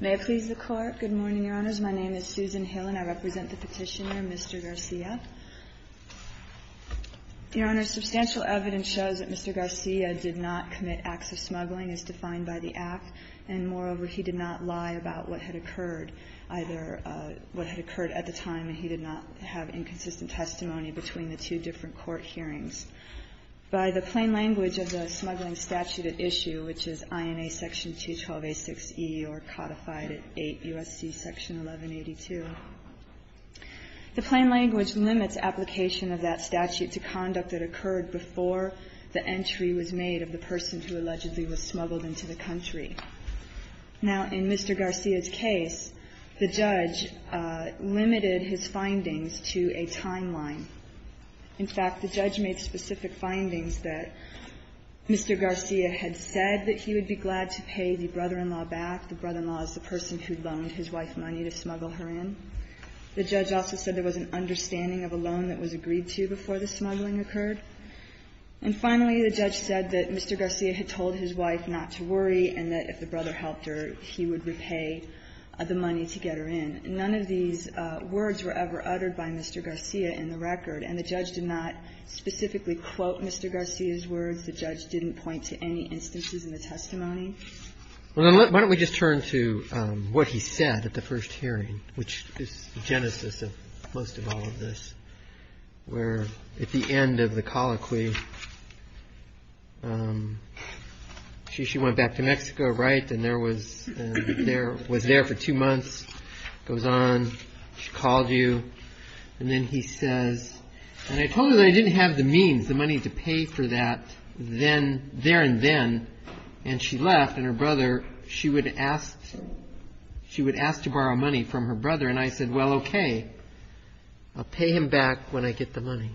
May I please the Court. Good morning, Your Honors. My name is Susan Hill and I represent the Petitioner, Mr. Garcia. Your Honors, substantial evidence shows that Mr. Garcia did not commit acts of smuggling as defined by the Act, and moreover, he did not lie about what had occurred, either what had occurred at the time and he did not have inconsistent testimony between the two different court hearings. By the plain language of the smuggling statute at issue, which is INA section 212A6E or codified at 8 U.S.C. section 1182, the plain language limits application of that statute to conduct that occurred before the entry was made of the person who allegedly was smuggled into the country. Now, in Mr. Garcia's case, the judge limited his findings to a timeline. In fact, the judge made specific findings that Mr. Garcia had said that he would be glad to pay the brother-in-law back. The brother-in-law is the person who loaned his wife money to smuggle her in. The judge also said there was an understanding of a loan that was agreed to before the smuggling occurred. And finally, the judge said that Mr. Garcia had told his wife not to worry and that if the brother helped her, he would repay the money to get her in. None of these words were ever uttered by Mr. Garcia in the record. And the judge did not specifically quote Mr. Garcia's words. The judge didn't point to any instances in the testimony. Roberts. Why don't we just turn to what he said at the first hearing, which is the genesis of most of all of this, where at the end of the colloquy. She she went back to Mexico. Right. And there was there was there for two months. Goes on. She called you. And then he says. And I told her that I didn't have the means, the money to pay for that. Then there and then. And she left. And her brother, she would ask. She would ask to borrow money from her brother. And I said, well, OK, I'll pay him back when I get the money.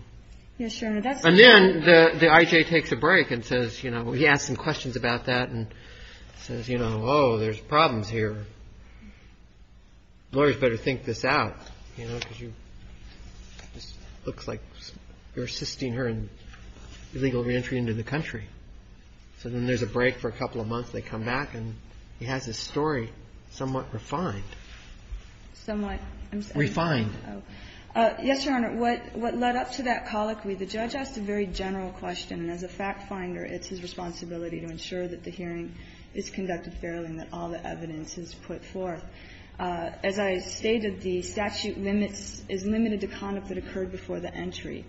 Yes. And then the I.J. takes a break and says, you know, he asked some questions about that and says, you know, oh, there's problems here. Lawyers better think this out, you know, because you just look like you're assisting her in illegal reentry into the country. So then there's a break for a couple of months. They come back and he has his story somewhat refined. Somewhat refined. Yes, Your Honor. What what led up to that colloquy, the judge asked a very general question. And as a fact finder, it's his responsibility to ensure that the hearing is conducted fairly and that all the evidence is put forth. As I stated, the statute limits is limited to conduct that occurred before the entry.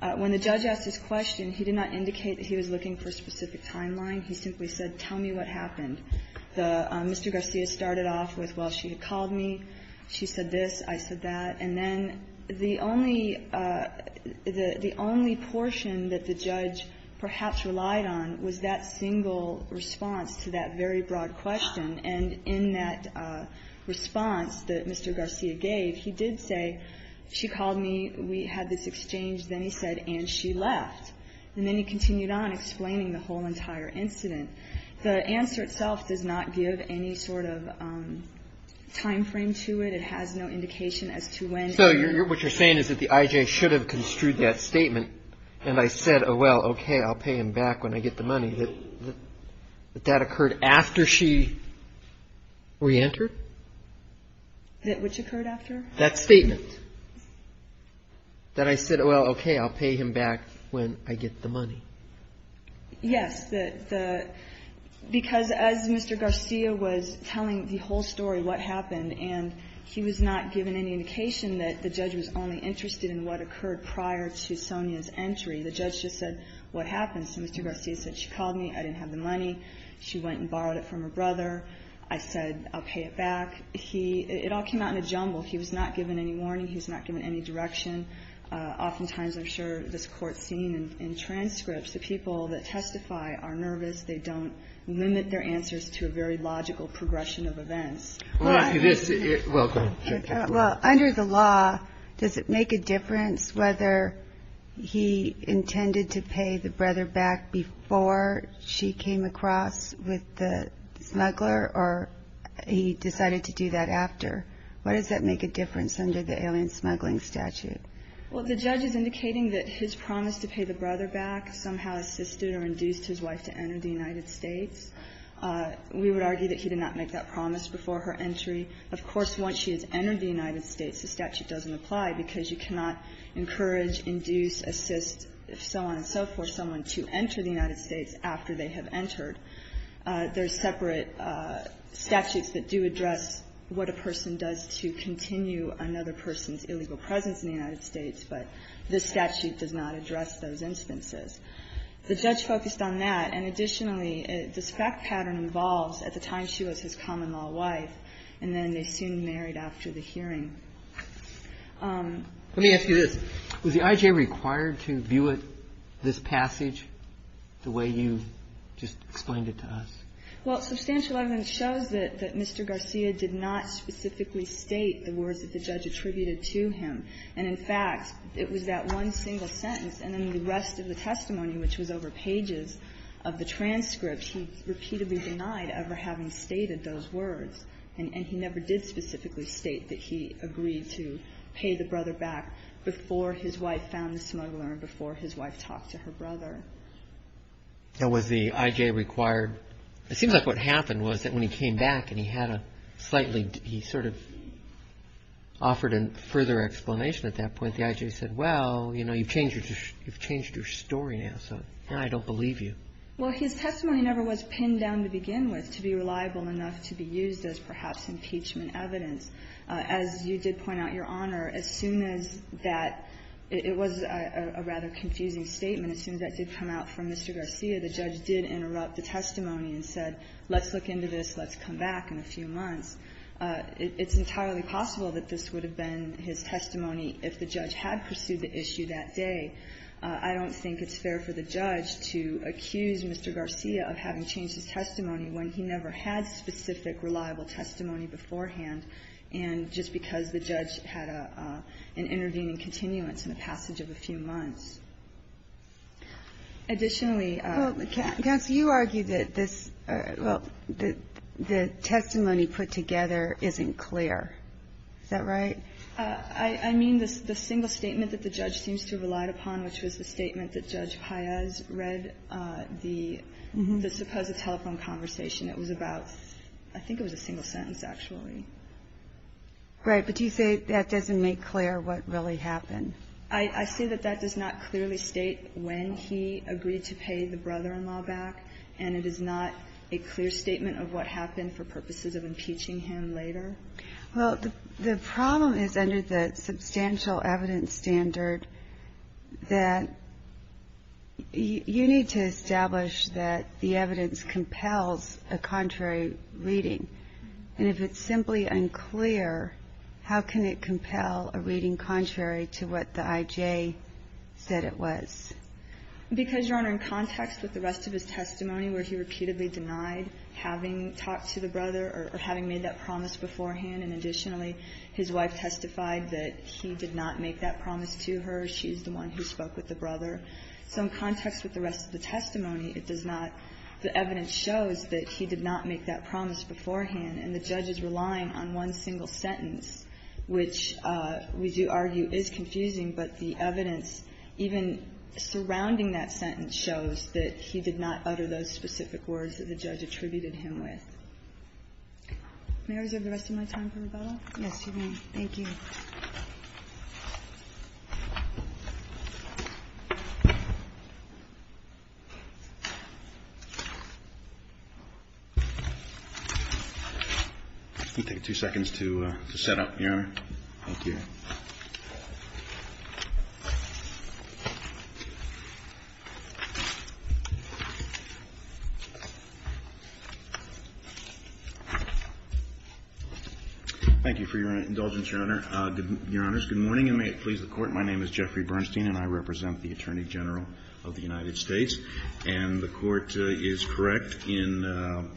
When the judge asked his question, he did not indicate that he was looking for a specific timeline. He simply said, tell me what happened. Mr. Garcia started off with, well, she had called me. She said this. I said that. And then the only the only portion that the judge perhaps relied on was that single response to that very broad question. And in that response that Mr. Garcia gave, he did say, she called me. We had this exchange. Then he said, and she left. And then he continued on explaining the whole entire incident. The answer itself does not give any sort of time frame to it. It has no indication as to when. So what you're saying is that the I.J. should have construed that statement. And I said, oh, well, OK, I'll pay him back when I get the money. But that occurred after she reentered? Which occurred after? That statement. That I said, oh, well, OK, I'll pay him back when I get the money. Yes, because as Mr. Garcia was telling the whole story, what happened, and he was not giving any indication that the judge was only interested in what occurred prior to Sonia's entry, the judge just said, what happened? So Mr. Garcia said, she called me. I didn't have the money. She went and borrowed it from her brother. I said, I'll pay it back. It all came out in a jumble. He was not given any warning. He was not given any direction. Oftentimes, I'm sure this Court's seen in transcripts, the people that testify are nervous. They don't limit their answers to a very logical progression of events. Well, under the law, does it make a difference whether he intended to pay the brother back before she came across with the smuggler or he decided to do that after? What does that make a difference under the alien smuggling statute? Well, the judge is indicating that his promise to pay the brother back somehow assisted or induced his wife to enter the United States. We would argue that he did not make that promise before her entry. Of course, once she has entered the United States, the statute doesn't apply because you cannot encourage, induce, assist, so on and so forth, someone to enter the United States after they have entered. There are separate statutes that do address what a person does to continue another person's illegal presence in the United States, but this statute does not address those instances. The judge focused on that, and additionally, this fact pattern involves at the time she was his common-law wife, and then they soon married after the hearing. Let me ask you this. Was the I.J. required to view it, this passage, the way you just explained it to us? Well, substantial evidence shows that Mr. Garcia did not specifically state the words that the judge attributed to him. And in fact, it was that one single sentence, and then the rest of the testimony, which was over pages of the transcript, he repeatedly denied ever having stated those words, and he never did specifically state that he agreed to pay the brother back before his wife found the smuggler and before his wife talked to her brother. Now, was the I.J. required? It seems like what happened was that when he came back and he had a slightly he sort of offered a further explanation at that point, the I.J. said, well, you know, you've changed your story now, so now I don't believe you. Well, his testimony never was pinned down to begin with to be reliable enough to be used as perhaps impeachment evidence. As you did point out, Your Honor, as soon as that – it was a rather confusing statement – as soon as that did come out from Mr. Garcia, the judge did interrupt the testimony and said, let's look into this, let's come back in a few months. It's entirely possible that this would have been his testimony if the judge had pursued the issue that day. I don't think it's fair for the judge to accuse Mr. Garcia of having changed his testimony when he never had specific reliable testimony beforehand and just because the judge had an intervening continuance in the passage of a few months. Additionally – Well, counsel, you argue that this – well, the testimony put together isn't clear. Is that right? I mean the single statement that the judge seems to have relied upon, which was the telephone conversation, it was about – I think it was a single sentence, actually. Right. But do you say that doesn't make clear what really happened? I see that that does not clearly state when he agreed to pay the brother-in-law back, and it is not a clear statement of what happened for purposes of impeaching him later. Well, the problem is under the substantial evidence standard that you need to establish that the evidence compels a contrary reading. And if it's simply unclear, how can it compel a reading contrary to what the I.J. said it was? Because, Your Honor, in context with the rest of his testimony where he repeatedly denied having talked to the brother or having made that promise beforehand, and additionally, his wife testified that he did not make that promise to her. She's the one who spoke with the brother. So in context with the rest of the testimony, it does not – the evidence shows that he did not make that promise beforehand, and the judge is relying on one single sentence, which we do argue is confusing, but the evidence even surrounding that sentence shows that he did not utter those specific words that the judge attributed him with. May I reserve the rest of my time for rebuttal? Yes, you may. Thank you. I'm going to take two seconds to set up, Your Honor. Thank you. Thank you for your indulgence, Your Honor. Your Honors, good morning, and may it please the Court. My name is Jeffrey Bernstein, and I represent the Attorney General of the United States, and the Court is correct in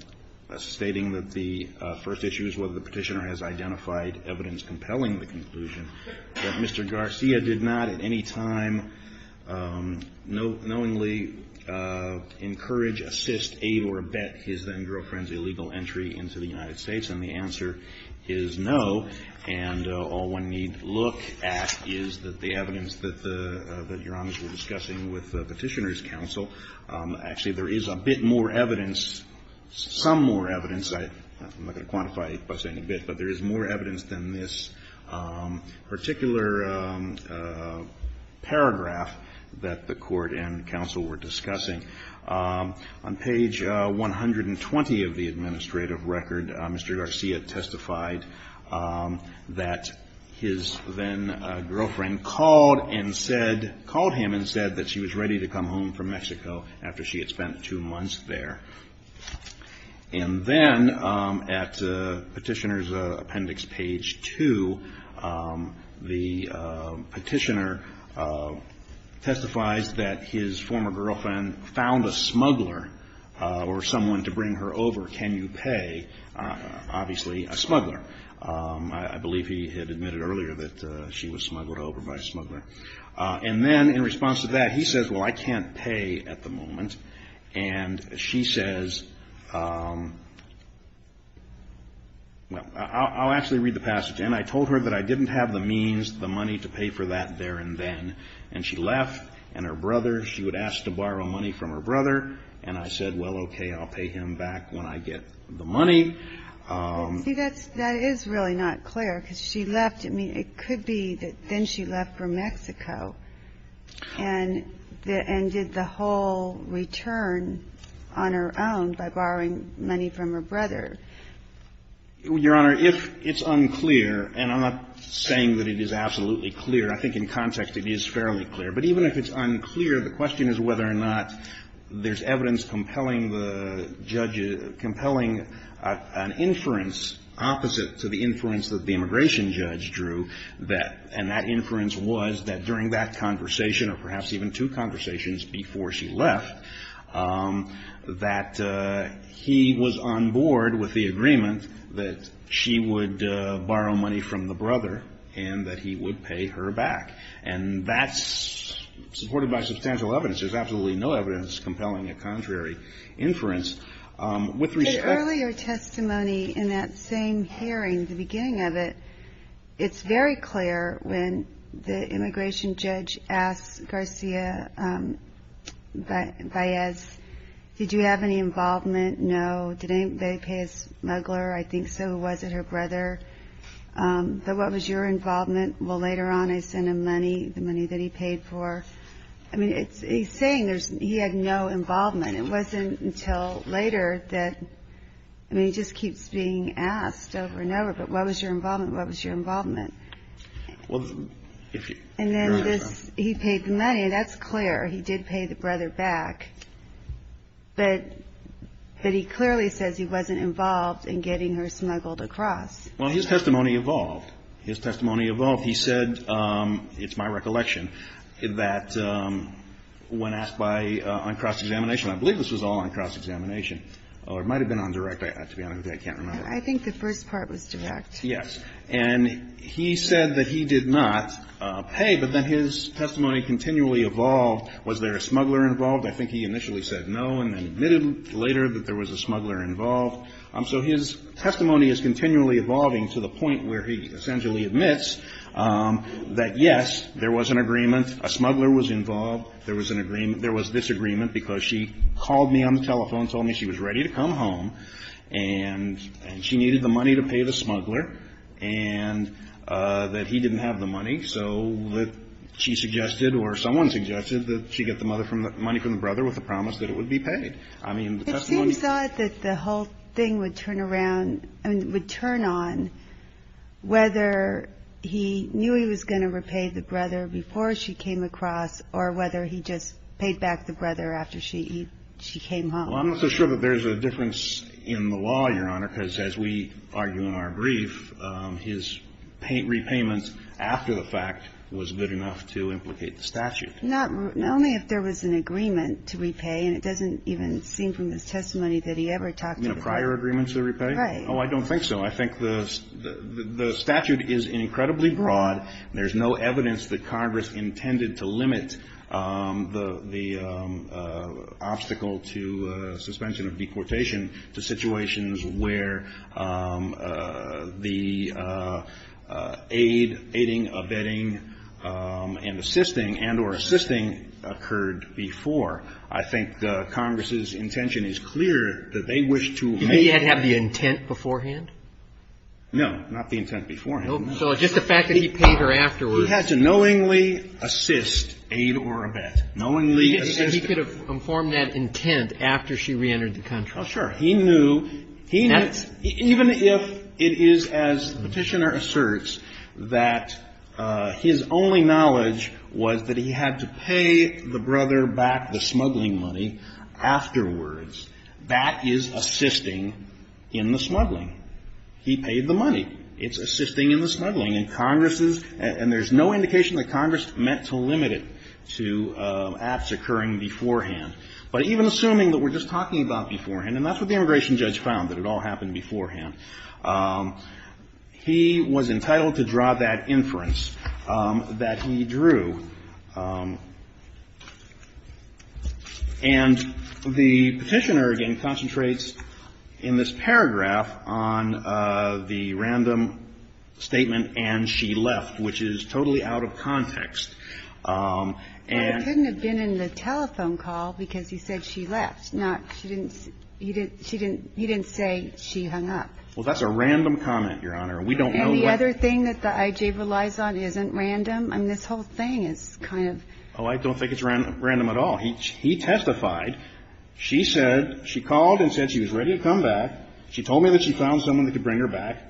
stating that the first issue is whether the Petitioner has identified evidence compelling the conclusion that Mr. Garcia did not at any time knowingly encourage, assist, aid, or abet his then-girlfriend's illegal entry into the United States, and the answer is no, and all one need look at is that the evidence that Your Honors were discussing with the Petitioner's counsel – actually, there is a bit more evidence, some more evidence – I'm not going to quantify it by saying a bit, but there is more evidence than this particular paragraph that the Court and counsel were discussing. On page 120 of the administrative record, Mr. Garcia testified that his then-girlfriend called and said – called him and said that she was ready to come home from Mexico after she had spent two months there. And then at Petitioner's appendix page 2, the Petitioner testifies that his former girlfriend found a smuggler or someone to bring her over. Can you pay? Obviously, a smuggler. I believe he had admitted earlier that she was smuggled over by a smuggler. And then in response to that, he says, well, I can't pay at the moment. And she says – well, I'll actually read the passage. And I told her that I didn't have the means, the money to pay for that there and then. And she left. And her brother, she would ask to borrow money from her brother. And I said, well, okay, I'll pay him back when I get the money. See, that's – that is really not clear, because she left. I mean, it could be that then she left for Mexico and did the whole return on her own by borrowing money from her brother. Your Honor, if it's unclear, and I'm not saying that it is absolutely clear. I think in context it is fairly clear. But even if it's unclear, the question is whether or not there's evidence compelling the judge – compelling an inference opposite to the inference that the immigration judge drew that – and that inference was that during that conversation or perhaps even two conversations before she left, that he was on board with the agreement that she would borrow money from the brother and that he would pay her back. And that's supported by substantial evidence. There's absolutely no evidence compelling a contrary inference. With respect – But earlier testimony in that same hearing, the beginning of it, it's very clear when the immigration judge asked Garcia-Baez, did you have any involvement? No. Did anybody pay a smuggler? I think so. Was it her brother? But what was your involvement? Well, later on I sent him money, the money that he paid for. I mean, he's saying he had no involvement. It wasn't until later that – I mean, he just keeps being asked over and over, but what was your involvement? What was your involvement? And then this – he paid the money. That's clear. He did pay the brother back. But he clearly says he wasn't involved in getting her smuggled across. Well, his testimony evolved. His testimony evolved. He said, it's my recollection, that when asked by – on cross-examination – I believe this was all on cross-examination, or it might have been on direct. To be honest with you, I can't remember. I think the first part was direct. Yes. And he said that he did not pay, but then his testimony continually evolved. Was there a smuggler involved? I think he initially said no and then admitted later that there was a smuggler involved. So his testimony is continually evolving to the point where he essentially admits that, yes, there was an agreement, a smuggler was involved, there was disagreement because she called me on the telephone, told me she was ready to come home, and she needed the money to pay the smuggler, and that he didn't have the money. So she suggested, or someone suggested, that she get the money from the brother with the promise that it would be paid. I mean, the testimony – But you thought that the whole thing would turn around – I mean, would turn on whether he knew he was going to repay the brother before she came across or whether he just paid back the brother after she came home. Well, I'm not so sure that there's a difference in the law, Your Honor, because as we argue in our brief, his repayments after the fact was good enough to implicate the statute. Not – only if there was an agreement to repay, and it doesn't even seem from his testimony that he ever talked about – You know, prior agreements to repay? Right. Oh, I don't think so. I think the statute is incredibly broad. There's no evidence that Congress intended to limit the obstacle to suspension of deportation to situations where the aid, aiding, abetting, and assisting and or assisting occurred before. I think Congress's intention is clear that they wish to make – Did he have the intent beforehand? No. Not the intent beforehand. So just the fact that he paid her afterwards – He had to knowingly assist, aid or abet. Knowingly assist – He could have informed that intent after she reentered the country. Oh, sure. He knew – he knew – That's – Even if it is, as the Petitioner asserts, that his only knowledge was that he had to pay the brother back the smuggling money afterwards, that is assisting in the smuggling. He paid the money. It's assisting in the smuggling. And there's no indication that Congress meant to limit it to acts occurring beforehand. But even assuming that we're just talking about beforehand, and that's what the immigration judge found, that it all happened beforehand, he was entitled to draw that inference that he drew. And the Petitioner, again, concentrates in this paragraph on the random statement and she left, which is totally out of context. And – Well, it couldn't have been in the telephone call because he said she left, not she didn't – he didn't say she hung up. Well, that's a random comment, Your Honor. We don't know – And the other thing that the IJ relies on isn't random. I mean, this whole thing is kind of – Oh, I don't think it's random at all. He testified. She said – she called and said she was ready to come back. She told me that she found someone that could bring her back.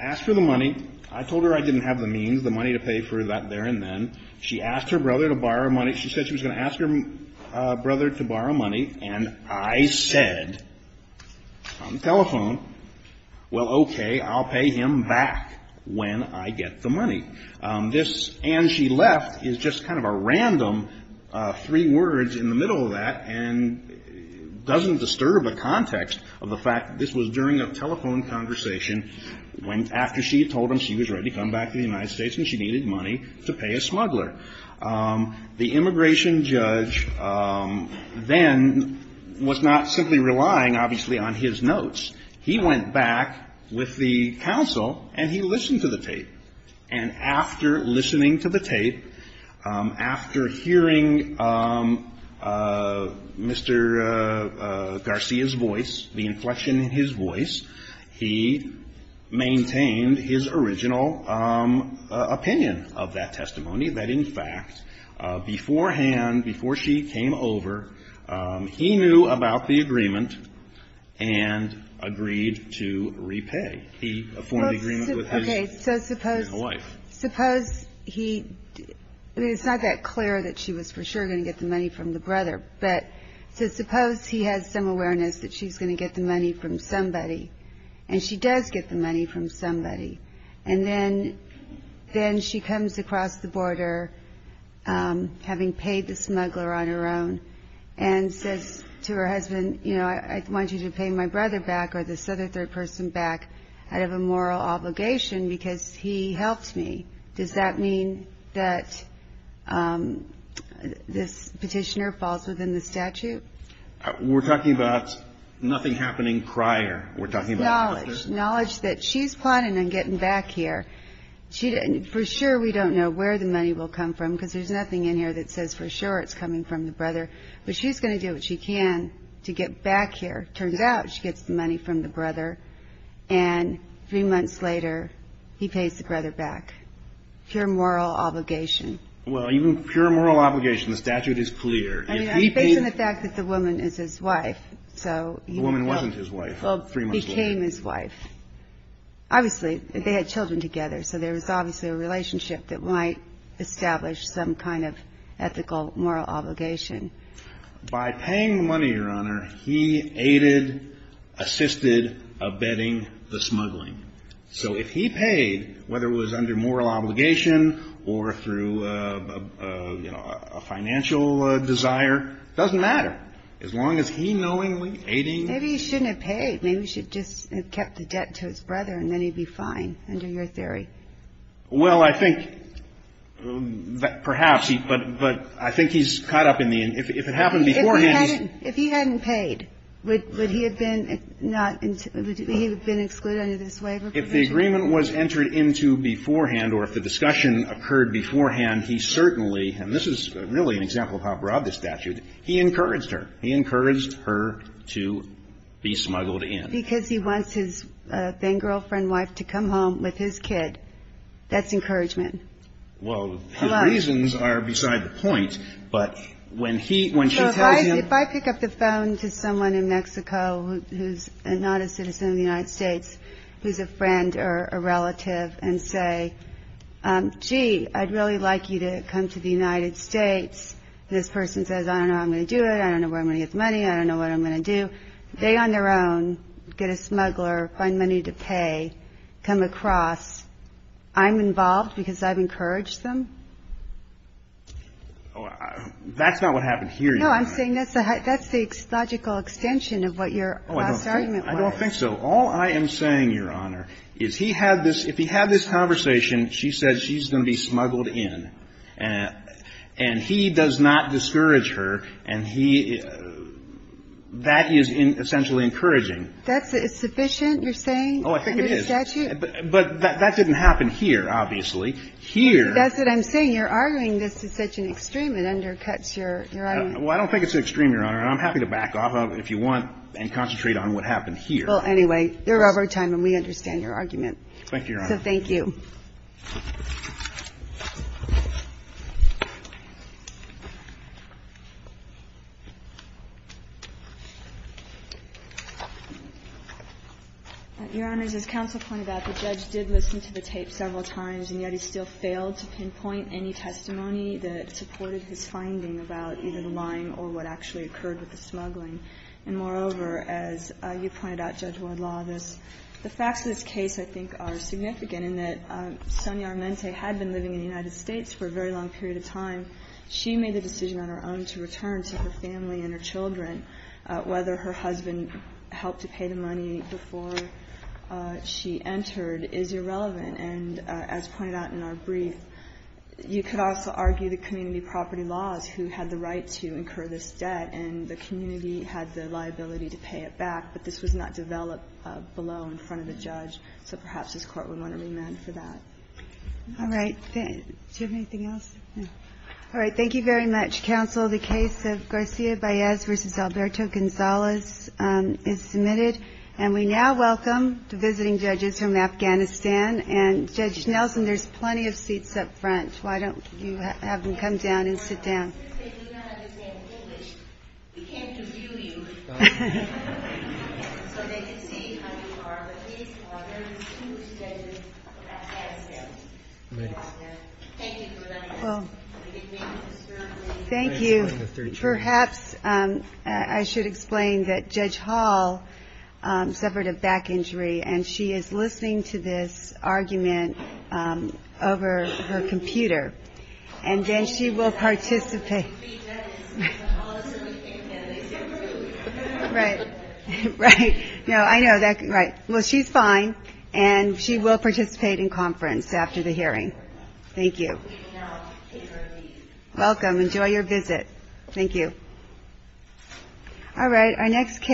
Asked for the money. I told her I didn't have the means, the money to pay for that there and then. She asked her brother to borrow money. She said she was going to ask her brother to borrow money. And I said on the telephone, well, okay, I'll pay him back when I get the money. This and she left is just kind of a random three words in the middle of that and doesn't disturb the context of the fact that this was during a telephone conversation after she had told him she was ready to come back to the United States and she needed money to pay a smuggler. The immigration judge then was not simply relying, obviously, on his notes. He went back with the counsel and he listened to the tape. And after listening to the tape, after hearing Mr. Garcia's voice, the inflection in his voice, he maintained his original opinion of that testimony, that, in fact, beforehand, before she came over, he knew about the agreement and agreed to repay. Okay. So suppose he, I mean, it's not that clear that she was for sure going to get the money from the brother, but suppose he has some awareness that she's going to get the money from somebody and she does get the money from somebody. And then she comes across the border, having paid the smuggler on her own, and says to her husband, you know, I want you to pay my brother back or this other third person back out of a moral obligation because he helped me. Does that mean that this petitioner falls within the statute? We're talking about nothing happening prior. We're talking about... Knowledge. Knowledge that she's planning on getting back here. For sure we don't know where the money will come from because there's nothing in here that says for sure it's coming from the brother. But she's going to do what she can to get back here. Turns out she gets the money from the brother. And three months later, he pays the brother back. Pure moral obligation. Well, even pure moral obligation, the statute is clear. I mean, based on the fact that the woman is his wife. The woman wasn't his wife three months later. Became his wife. Obviously, they had children together, so there was obviously a relationship that might establish some kind of ethical moral obligation. By paying the money, Your Honor, he aided, assisted, abetting the smuggling. So if he paid, whether it was under moral obligation or through, you know, a financial desire, it doesn't matter. As long as he knowingly aiding... Maybe he shouldn't have paid. Maybe he should have just kept the debt to his brother and then he'd be fine, under your theory. Well, I think perhaps, but I think he's caught up in the end. If it happened beforehand... If he hadn't paid, would he have been excluded under this waiver provision? If the agreement was entered into beforehand or if the discussion occurred beforehand, he certainly, and this is really an example of how broad the statute, he encouraged her. He encouraged her to be smuggled in. And because he wants his then-girlfriend wife to come home with his kid, that's encouragement. Well, the reasons are beside the point, but when she tells him... If I pick up the phone to someone in Mexico who's not a citizen of the United States, who's a friend or a relative, and say, gee, I'd really like you to come to the United States, this person says, I don't know how I'm going to do it, I don't know where I'm going to get the money, I don't know what I'm going to do. When they on their own get a smuggler, find money to pay, come across, I'm involved because I've encouraged them? That's not what happened here, Your Honor. No, I'm saying that's the logical extension of what your last argument was. I don't think so. All I am saying, Your Honor, is he had this – if he had this conversation, she said she's going to be smuggled in. And he does not discourage her. And he – that is essentially encouraging. That's sufficient, you're saying? Oh, I think it is. Under the statute? But that didn't happen here, obviously. Here... That's what I'm saying. You're arguing this is such an extreme, it undercuts your argument. Well, I don't think it's extreme, Your Honor, and I'm happy to back off if you want and concentrate on what happened here. Well, anyway, you're over time and we understand your argument. Thank you, Your Honor. So thank you. Your Honor, as this counsel pointed out, the judge did listen to the tape several times, and yet he still failed to pinpoint any testimony that supported his finding about either the lying or what actually occurred with the smuggling. And moreover, as you pointed out, Judge Wardlaw, the facts of this case, I think, are significant in that Sonia Armente had been living in the United States for a very long period of time. She made the decision on her own to return to her family and her children. Whether her husband helped to pay the money before she entered is irrelevant. And as pointed out in our brief, you could also argue the community property laws who had the right to incur this debt, and the community had the liability to pay it back. But this was not developed below in front of the judge. So perhaps this Court would want to remand for that. All right. Do you have anything else? All right. Thank you very much, counsel. The case of Garcia-Baez v. Alberto Gonzalez is submitted. And we now welcome the visiting judges from Afghanistan. And, Judge Nelson, there's plenty of seats up front. Why don't you have them come down and sit down? Well, thank you. Perhaps I should explain that Judge Hall suffered a back injury, and she is listening to this argument over her computer. And then she will participate in conference after the hearing. Thank you. Welcome. Enjoy your visit. Thank you. All right.